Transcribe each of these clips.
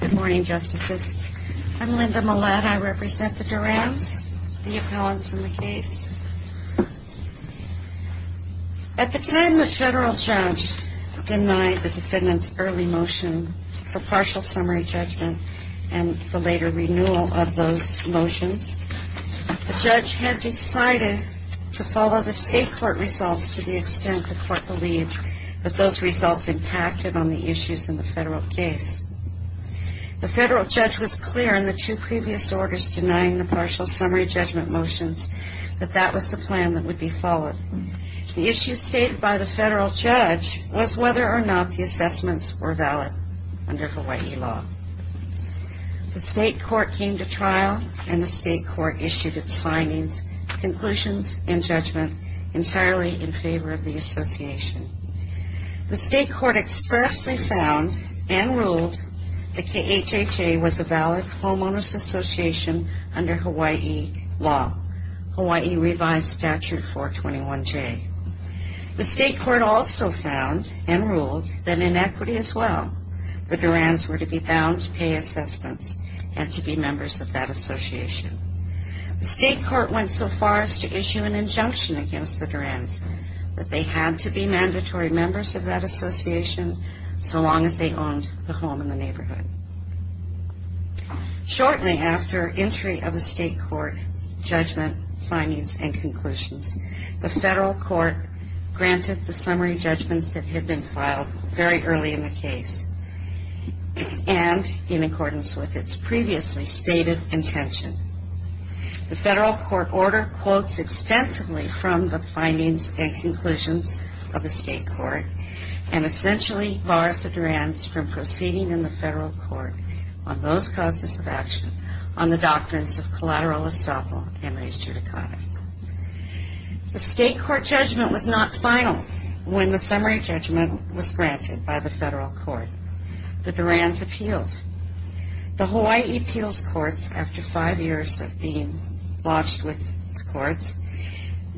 Good morning, Justices. I'm Linda Mullatt. I represent the Durans, the appellants in the case. At the time the federal judge denied the defendant's early motion for partial summary judgment and the later renewal of those motions, the judge had decided to follow the state court results to the extent the court believed that those results impacted on the issues in the federal case. The federal judge was clear in the two previous orders denying the partial summary judgment motions that that was the plan that would be followed. The issue stated by the federal judge was whether or not the assessments were valid under Hawaii law. The state court came to trial and the state court issued its findings, conclusions and judgment entirely in favor of the association. The state court expressly found and ruled that the HHA was a valid homeowners association under Hawaii law, Hawaii revised statute 421J. The state court also found and ruled that in equity as well, the Durans were to be bound to pay assessments and to be members of that association. The state court went so far as to issue an injunction against the Durans that they had to be mandatory members of that association so long as they owned the home in the neighborhood. Shortly after entry of the state court judgment, findings and conclusions, the federal court granted the summary judgments that had been filed very early in the case and in accordance with its previously stated intention. The federal court order quotes extensively from the findings and conclusions of the state court and essentially bars the Durans from proceeding in the federal court on those causes of action on the doctrines of collateral estoppel and res judicata. The state court judgment was not final when the summary judgment was granted by the federal court. The Durans appealed. The Hawaii appeals courts, after five years of being botched with courts,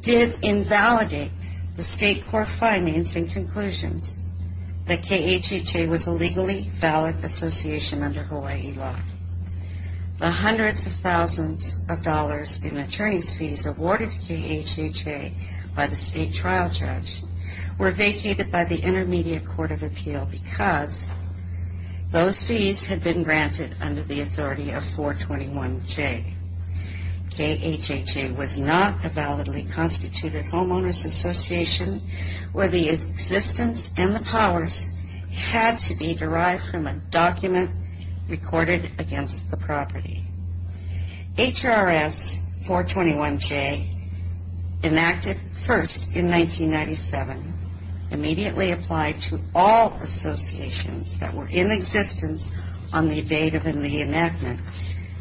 did invalidate the state court findings and conclusions that KHHA was a legally valid association under Hawaii law. The hundreds of thousands of dollars in attorney's fees awarded to KHHA by the state trial judge were vacated by the intermediate court of appeal because those fees had been granted under the authority of 421J. KHHA was not a validly constituted homeowner's association where the existence and the powers had to be derived from a document recorded against the property. HRS 421J, enacted first in 1997, immediately applied to all associations that were in existence on the date of the enactment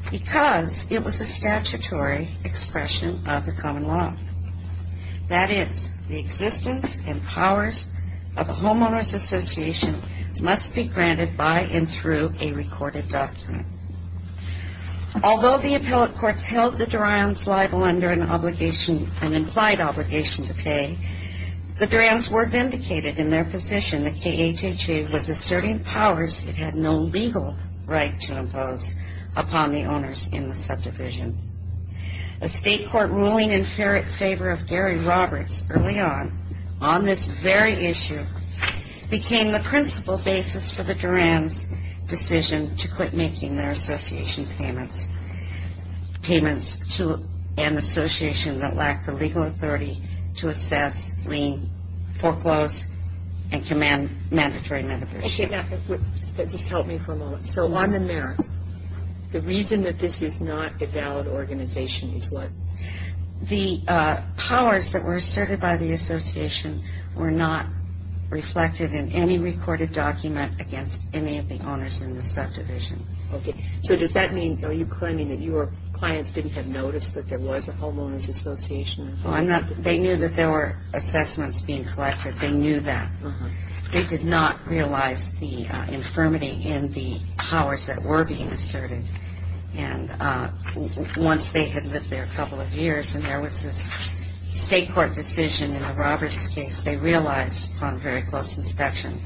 because it was a statutory expression of the common law. That is, the existence and powers of a homeowner's association must be granted by and through a recorded document. Although the appellate courts held the Durans liable under an implied obligation to pay, the Durans were vindicated in their position that KHHA was asserting powers it had no legal right to impose upon the owners in the subdivision. A state court ruling in favor of Gary Roberts early on, on this very issue, became the principal basis for the Durans' decision to quit making their association payments to an association that lacked the legal authority to assess, lien, foreclose, and command mandatory membership. Okay, now just help me for a moment. So on the merits, the reason that this is not a valid organization is what? The powers that were asserted by the association were not reflected in any recorded document against any of the owners in the subdivision. Okay, so does that mean, are you claiming that your clients didn't have noticed that there was a homeowner's association? They knew that there were assessments being collected. They knew that. They did not realize the infirmity in the powers that were being asserted. And once they had lived there a couple of years and there was this state court decision in the Roberts case, they realized upon very close inspection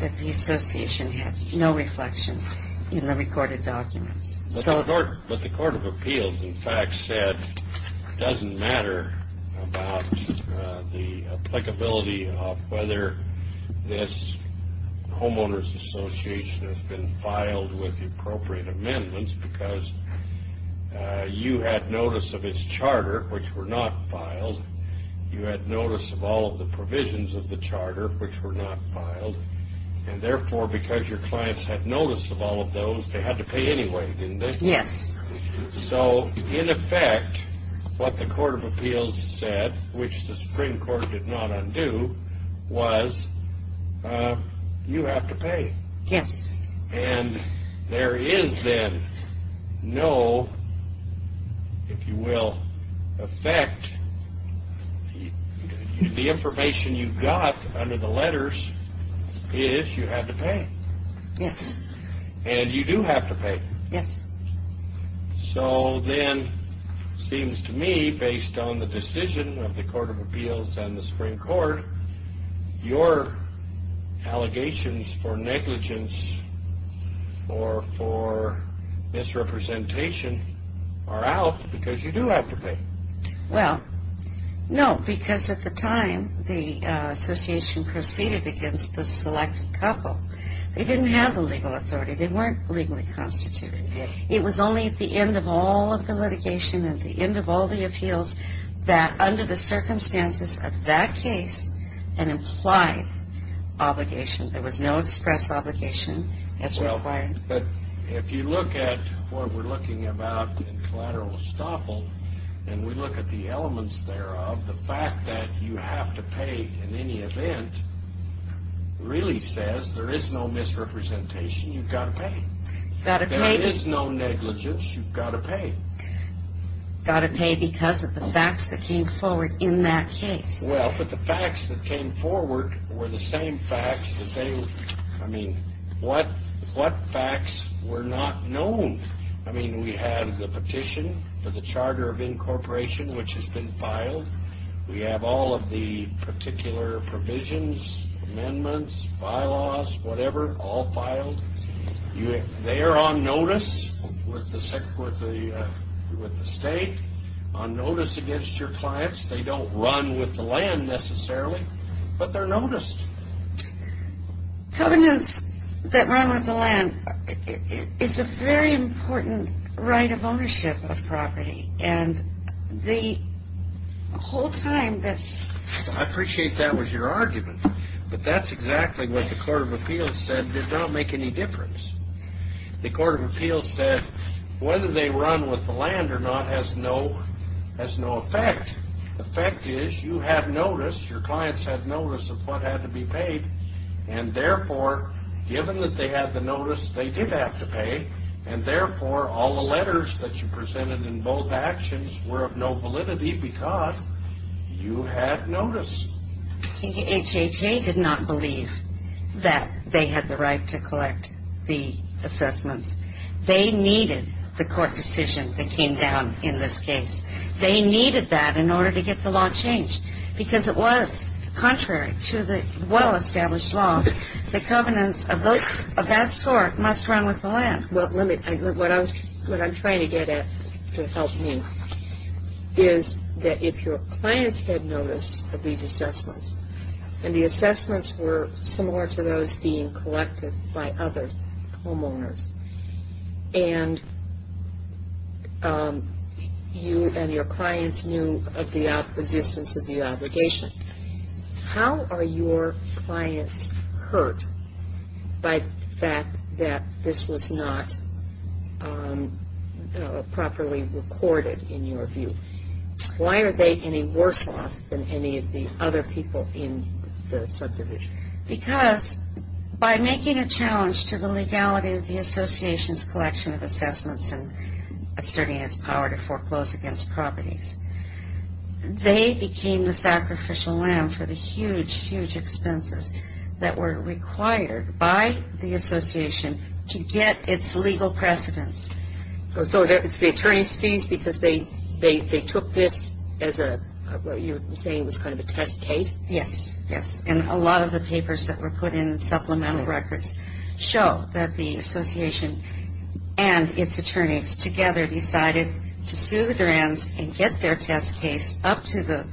that the association had no reflection in the recorded documents. But the court of appeals, in fact, said it doesn't matter about the applicability of whether this homeowner's association has been filed with the appropriate amendments because you had notice of its charter, which were not filed. You had notice of all of the provisions of the charter, which were not filed. And therefore, because your clients had notice of all of those, they had to pay anyway, didn't they? Yes. So, in effect, what the court of appeals said, which the Supreme Court did not undo, was you have to pay. Yes. And there is then no, if you will, effect. The information you got under the letters is you have to pay. Yes. And you do have to pay. Yes. So then, it seems to me, based on the decision of the court of appeals and the Supreme Court, your allegations for negligence or for misrepresentation are out because you do have to pay. Well, no, because at the time the association proceeded against the selected couple, they didn't have the legal authority. They weren't legally constituted. It was only at the end of all of the litigation, at the end of all the appeals, that under the circumstances of that case, an implied obligation, there was no express obligation as required. Well, but if you look at what we're looking about in collateral estoppel, and we look at the elements thereof, the fact that you have to pay in any event really says there is no misrepresentation. You've got to pay. You've got to pay. There is no negligence. You've got to pay. You've got to pay because of the facts that came forward in that case. Well, but the facts that came forward were the same facts that they, I mean, what facts were not known? I mean, we had the petition for the charter of incorporation, which has been filed. We have all of the particular provisions, amendments, bylaws, whatever, all filed. They are on notice with the state, on notice against your clients. They don't run with the land necessarily, but they're noticed. Covenants that run with the land is a very important right of ownership of property, and the whole time that – I appreciate that was your argument, but that's exactly what the court of appeals said. It did not make any difference. The court of appeals said whether they run with the land or not has no effect. The effect is you have notice, your clients have notice of what had to be paid, and therefore, given that they have the notice, they did have to pay, and therefore, all the letters that you presented in both actions were of no validity because you had notice. HHA did not believe that they had the right to collect the assessments. They needed the court decision that came down in this case. They needed that in order to get the law changed because it was contrary to the well-established law. The covenants of that sort must run with the land. What I'm trying to get at to help me is that if your clients had notice of these assessments, and the assessments were similar to those being collected by others, homeowners, and you and your clients knew of the existence of the obligation, how are your clients hurt by the fact that this was not properly recorded in your view? Why are they any worse off than any of the other people in the subdivision? Because by making a challenge to the legality of the association's collection of assessments and asserting its power to foreclose against properties, they became the sacrificial lamb for the huge, huge expenses that were required by the association to get its legal precedence. So it's the attorney's fees because they took this as a, you're saying it was kind of a test case? Yes, yes, and a lot of the papers that were put in, supplemental records, show that the association and its attorneys together decided to sue the Durans and get their test case up to the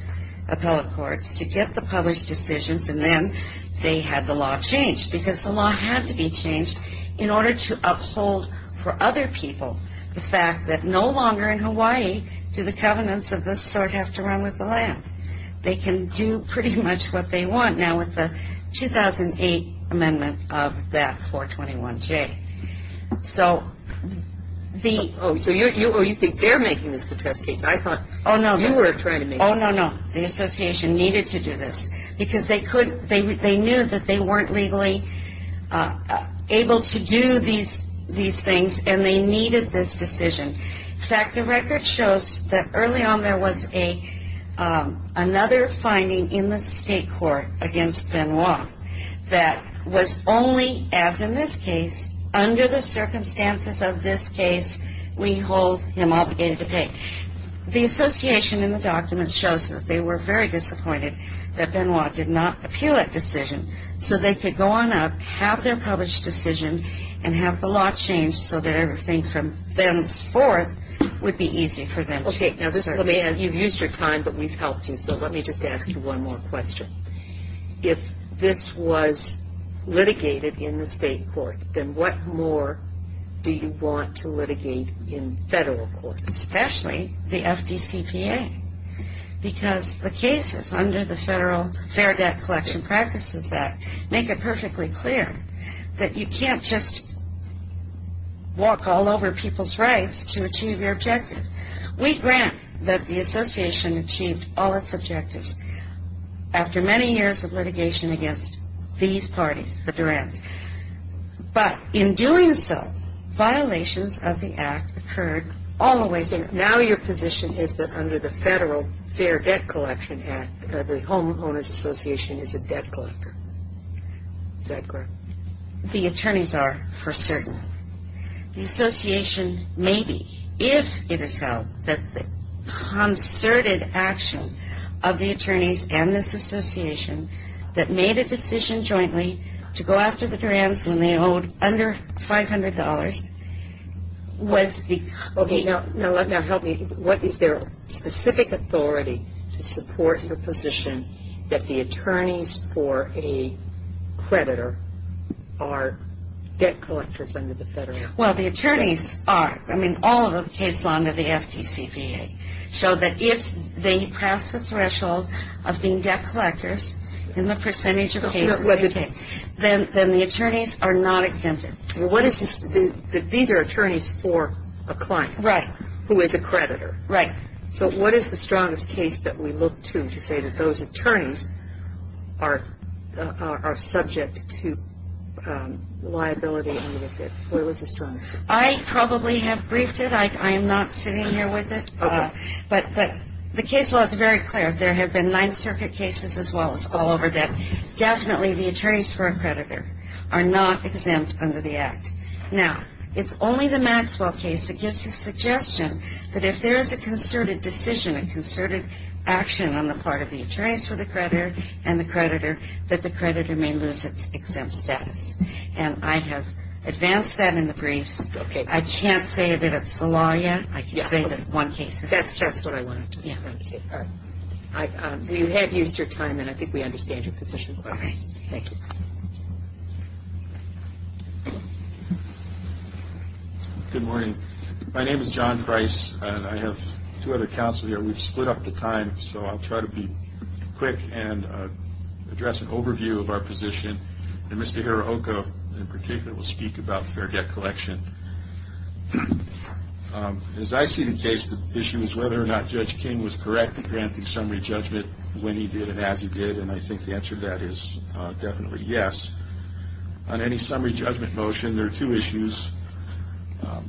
appellate courts to get the published decisions, and then they had the law changed because the law had to be changed in order to uphold for other people the fact that no longer in Hawaii do the covenants of this sort have to run with the land. They can do pretty much what they want now with the 2008 amendment of that 421J. So the... Oh, so you think they're making this the test case? I thought you were trying to make... Oh, no, no. The association needed to do this because they knew that they weren't legally able to do these things, and they needed this decision. In fact, the record shows that early on there was another finding in the state court against Benoit that was only, as in this case, under the circumstances of this case, we hold him obligated to pay. The association in the documents shows that they were very disappointed that Benoit did not appeal that decision so they could go on up, have their published decision, and have the law changed so that everything from thenceforth would be easy for them. Okay. Now, you've used your time, but we've helped you, so let me just ask you one more question. If this was litigated in the state court, then what more do you want to litigate in federal court? Especially the FDCPA because the cases under the Federal Fair Debt Collection Practices Act make it perfectly clear that you can't just walk all over people's rights to achieve your objective. We grant that the association achieved all its objectives after many years of litigation against these parties, the Durants. But in doing so, violations of the act occurred all the way through. Now your position is that under the Federal Fair Debt Collection Act, the Home Owners Association is a debt collector. Is that correct? The attorneys are for certain. The association may be, if it is held that the concerted action of the attorneys and this association that made a decision jointly to go after the Durants when they owed under $500 was the... Okay, now help me. What is their specific authority to support your position that the attorneys for a creditor are debt collectors under the Federal Fair Debt Collection Act? Well, the attorneys are. I mean, all of the cases under the FDCPA show that if they pass the threshold of being debt collectors in the percentage of cases they take, then the attorneys are not exempted. What is this? These are attorneys for a client. Right. Who is a creditor. Right. So what is the strongest case that we look to to say that those attorneys are subject to liability? What was the strongest case? I probably have briefed it. I am not sitting here with it. Okay. But the case law is very clear. There have been Ninth Circuit cases as well as all over that definitely the attorneys for a creditor are not exempt under the Act. Now, it's only the Maxwell case that gives the suggestion that if there is a concerted decision, a concerted action on the part of the attorneys for the creditor and the creditor, that the creditor may lose its exempt status. And I have advanced that in the briefs. Okay. I can't say that it's the law yet. I can say that one case is exempt. That's just what I wanted to say. All right. We have used your time, and I think we understand your position quite well. All right. Thank you. Good morning. My name is John Price, and I have two other counsel here. We've split up the time, so I'll try to be quick and address an overview of our position. And Mr. Hirohiko, in particular, will speak about fair debt collection. As I see the case, the issue is whether or not Judge King was correct in granting summary judgment when he did and as he did. And I think the answer to that is definitely yes. On any summary judgment motion, there are two issues.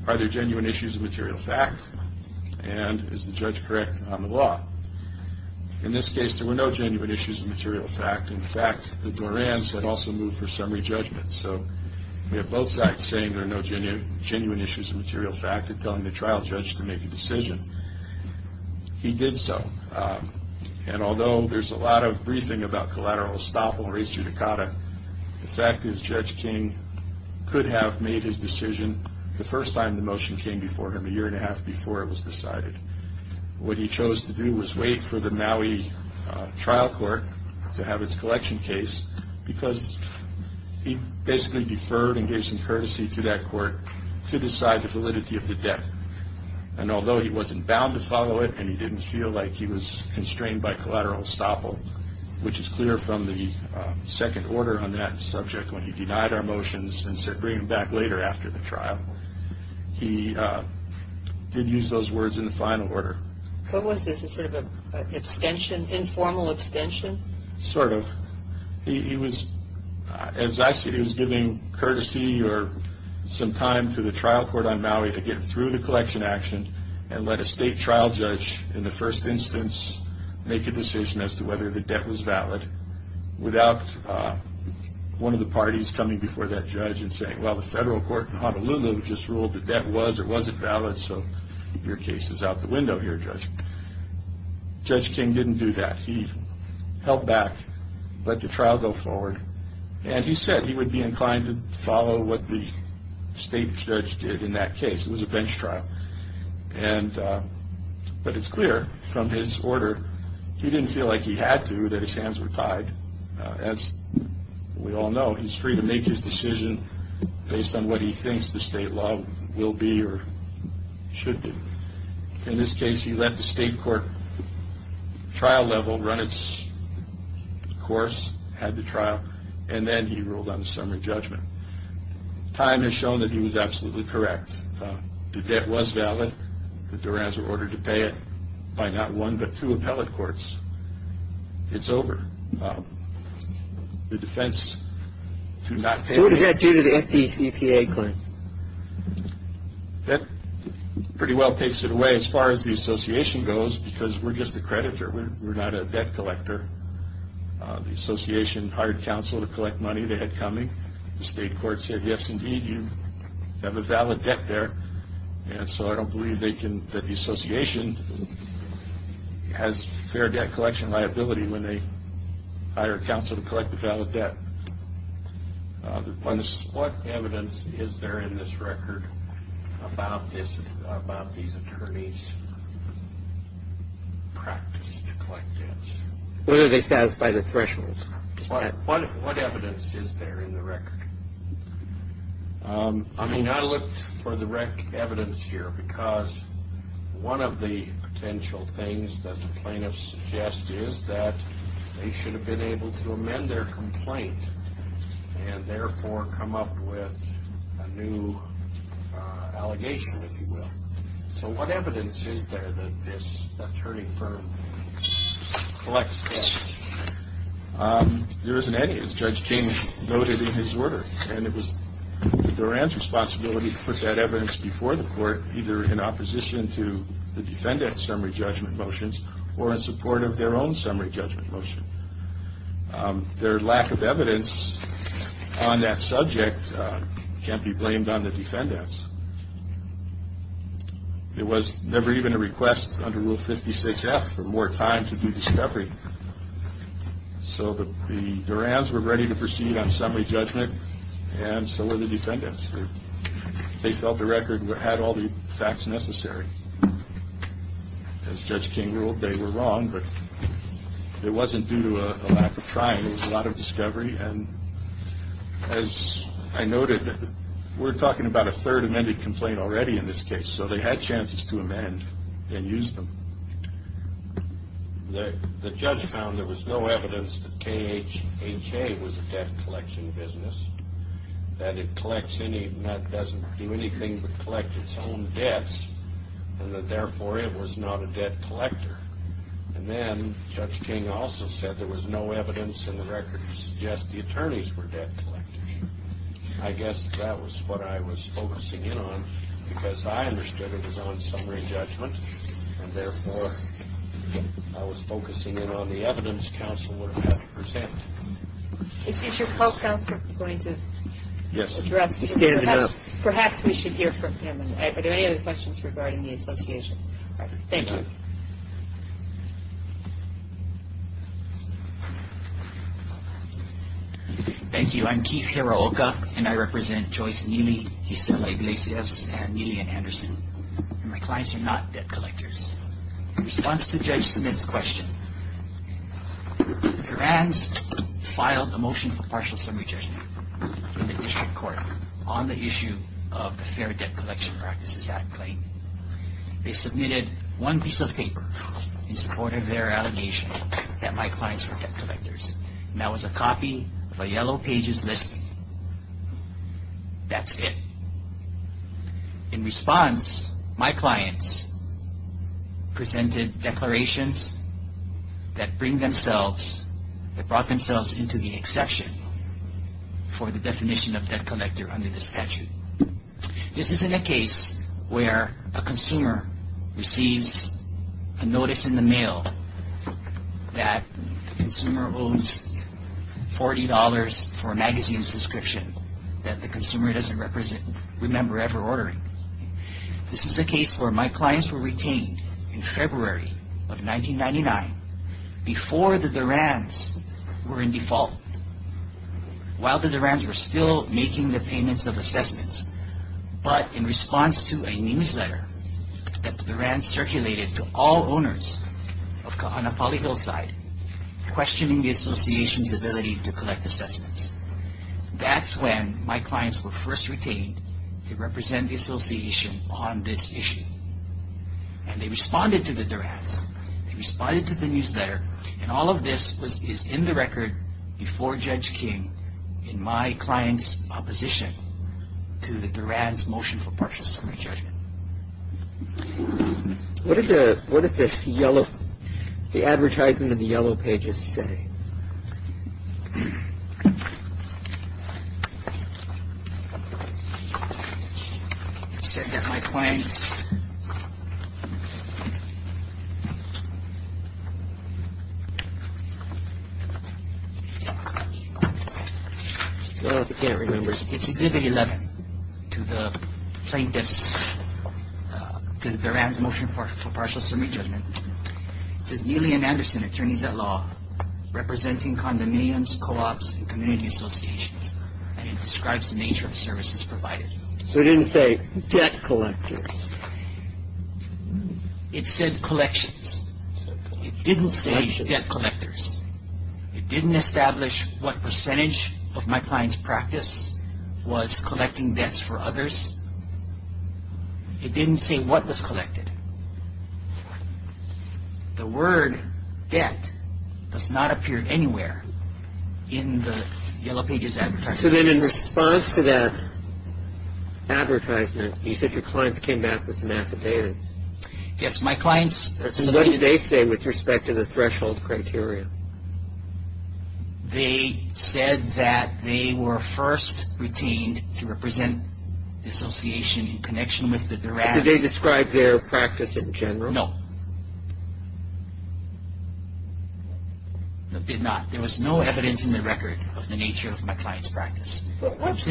Are there genuine issues of material fact? And is the judge correct on the law? In this case, there were no genuine issues of material fact. In fact, the Dorans had also moved for summary judgment. So we have both sides saying there are no genuine issues of material fact and telling the trial judge to make a decision. He did so. And although there's a lot of briefing about collateral estoppel and res judicata, the fact is Judge King could have made his decision the first time the motion came before him, a year and a half before it was decided. What he chose to do was wait for the Maui trial court to have its collection case because he basically deferred and gave some courtesy to that court to decide the validity of the debt. And although he wasn't bound to follow it and he didn't feel like he was constrained by collateral estoppel, which is clear from the second order on that subject when he denied our motions and said bring them back later after the trial. He did use those words in the final order. What was this? A sort of extension, informal extension? Sort of. As I said, he was giving courtesy or some time to the trial court on Maui to get through the collection action and let a state trial judge in the first instance make a decision as to whether the debt was valid without one of the parties coming before that judge and saying, well, the federal court in Honolulu just ruled the debt was or wasn't valid, so your case is out the window here, Judge. Judge King didn't do that. He held back, let the trial go forward, and he said he would be inclined to follow what the state judge did in that case. It was a bench trial. But it's clear from his order he didn't feel like he had to, that his hands were tied. As we all know, he's free to make his decision based on what he thinks the state law will be or should be. In this case, he let the state court trial level run its course, had the trial, and then he ruled on a summary judgment. Time has shown that he was absolutely correct. The debt was valid. The Durans were ordered to pay it by not one but two appellate courts. It's over. The defense did not pay it. So what does that do to the FDCPA claim? That pretty well takes it away as far as the association goes because we're just a creditor. We're not a debt collector. The association hired counsel to collect money they had coming. The state court said, yes, indeed, you have a valid debt there, and so I don't believe that the association has fair debt collection liability when they hire counsel to collect the valid debt. What evidence is there in this record about these attorneys' practice to collect debts? Whether they satisfy the threshold. What evidence is there in the record? I mean, I looked for the evidence here because one of the potential things that the plaintiffs suggest is that they should have been able to amend their complaint and therefore come up with a new allegation, if you will. So what evidence is there that this attorney firm collects debts? There isn't any, as Judge King noted in his order, and it was the Durans' responsibility to put that evidence before the court, either in opposition to the defendant's summary judgment motions or in support of their own summary judgment motion. Their lack of evidence on that subject can't be blamed on the defendants. It was never even a request under Rule 56-F for more time to do discovery. So the Durans were ready to proceed on summary judgment, and so were the defendants. They felt the record had all the facts necessary. As Judge King ruled, they were wrong, but it wasn't due to a lack of trying. It was a lot of discovery, and as I noted, we're talking about a third amended complaint already in this case, so they had chances to amend and use them. The judge found there was no evidence that KHA was a debt collection business, that it doesn't do anything but collect its own debts, and that therefore it was not a debt collector. And then Judge King also said there was no evidence in the record to suggest the attorneys were debt collectors. I guess that was what I was focusing in on, because I understood it was on summary judgment, and therefore I was focusing in on the evidence counsel would have had to present. Is your co-counselor going to address this? Yes, he's standing up. Perhaps we should hear from him. Are there any other questions regarding the association? All right. Thank you. Thank you. I'm Keith Hiraoka, and I represent Joyce Neely, Gisela Iglesias, and Neely and Anderson, and my clients are not debt collectors. In response to Judge Smith's question, the Grants filed a motion for partial summary judgment in the district court on the issue of the Fair Debt Collection Practices Act claim. They submitted one piece of paper in support of their allegation that my clients were debt collectors, and that was a copy of a yellow pages listing. That's it. In response, my clients presented declarations that bring themselves, that brought themselves into the exception for the definition of debt collector under the statute. This isn't a case where a consumer receives a notice in the mail that the consumer owns $40 for a magazine subscription that the consumer doesn't remember ever ordering. This is a case where my clients were retained in February of 1999 before the Duran's were in default. While the Duran's were still making the payments of assessments, but in response to a newsletter that the Duran's circulated to all owners of Kahanapali Hillside, questioning the association's ability to collect assessments. That's when my clients were first retained to represent the association on this issue, and they responded to the Duran's. They responded to the newsletter, and all of this is in the record before Judge King in my client's opposition to the Duran's motion for partial summary judgment. What did the, what did the yellow, the advertisement in the yellow pages say? It said that my clients, I can't remember. It's exhibit 11 to the plaintiff's, to the Duran's motion for partial summary judgment. It says Neely and Anderson, attorneys at law, representing condominiums, co-ops, and community associations, and it describes the nature of services provided. So it didn't say debt collectors. It said collections. It didn't say debt collectors. It didn't establish what percentage of my client's practice was collecting debts for others. It didn't say what was collected. The word debt does not appear anywhere in the yellow pages advertisement. So then in response to that advertisement, you said your clients came back with an affidavit. Yes, my clients. What did they say with respect to the threshold criteria? They said that they were first retained to represent the association in connection with the Duran. Did they describe their practice in general? No. They did not. There was no evidence in the record of the nature of my client's practice. What's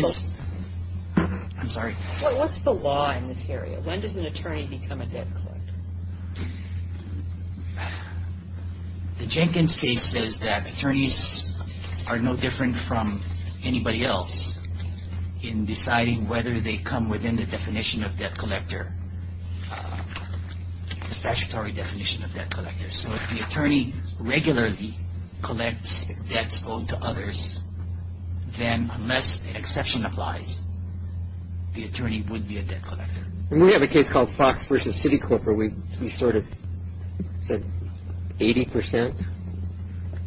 the law in this area? When does an attorney become a debt collector? The Jenkins case says that attorneys are no different from anybody else in deciding whether they come within the definition of debt collector, the statutory definition of debt collector. So if the attorney regularly collects debts owed to others, then unless the exception applies, the attorney would be a debt collector. We have a case called Fox versus Citicorp where we sort of said 80 percent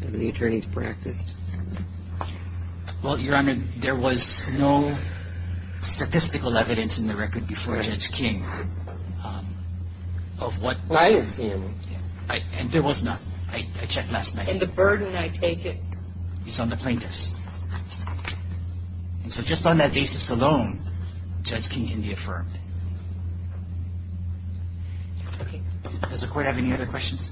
of the attorney's practice. Well, Your Honor, there was no statistical evidence in the record before Judge King of what my client's practice was. And there was none. I checked last night. And the burden, I take it? It's on the plaintiffs. And so just on that basis alone, Judge King can be affirmed. Okay. Does the Court have any other questions?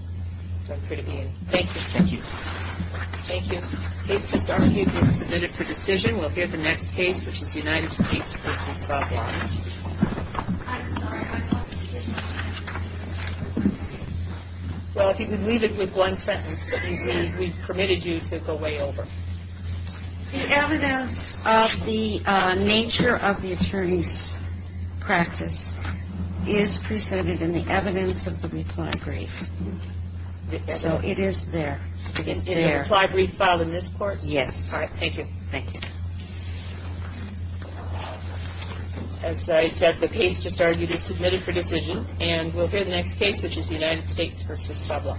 I'm free to be in. Thank you. Thank you. Thank you. The case just argued is submitted for decision. We'll hear the next case, which is United States versus Saban. Well, if you could leave it with one sentence that we permitted you to go way over. The evidence of the nature of the attorney's practice is presented in the evidence of the reply brief. So it is there. Is the reply brief filed in this court? Yes. All right. Thank you. Thank you. As I said, the case just argued is submitted for decision. And we'll hear the next case, which is United States versus Saban. Thank you.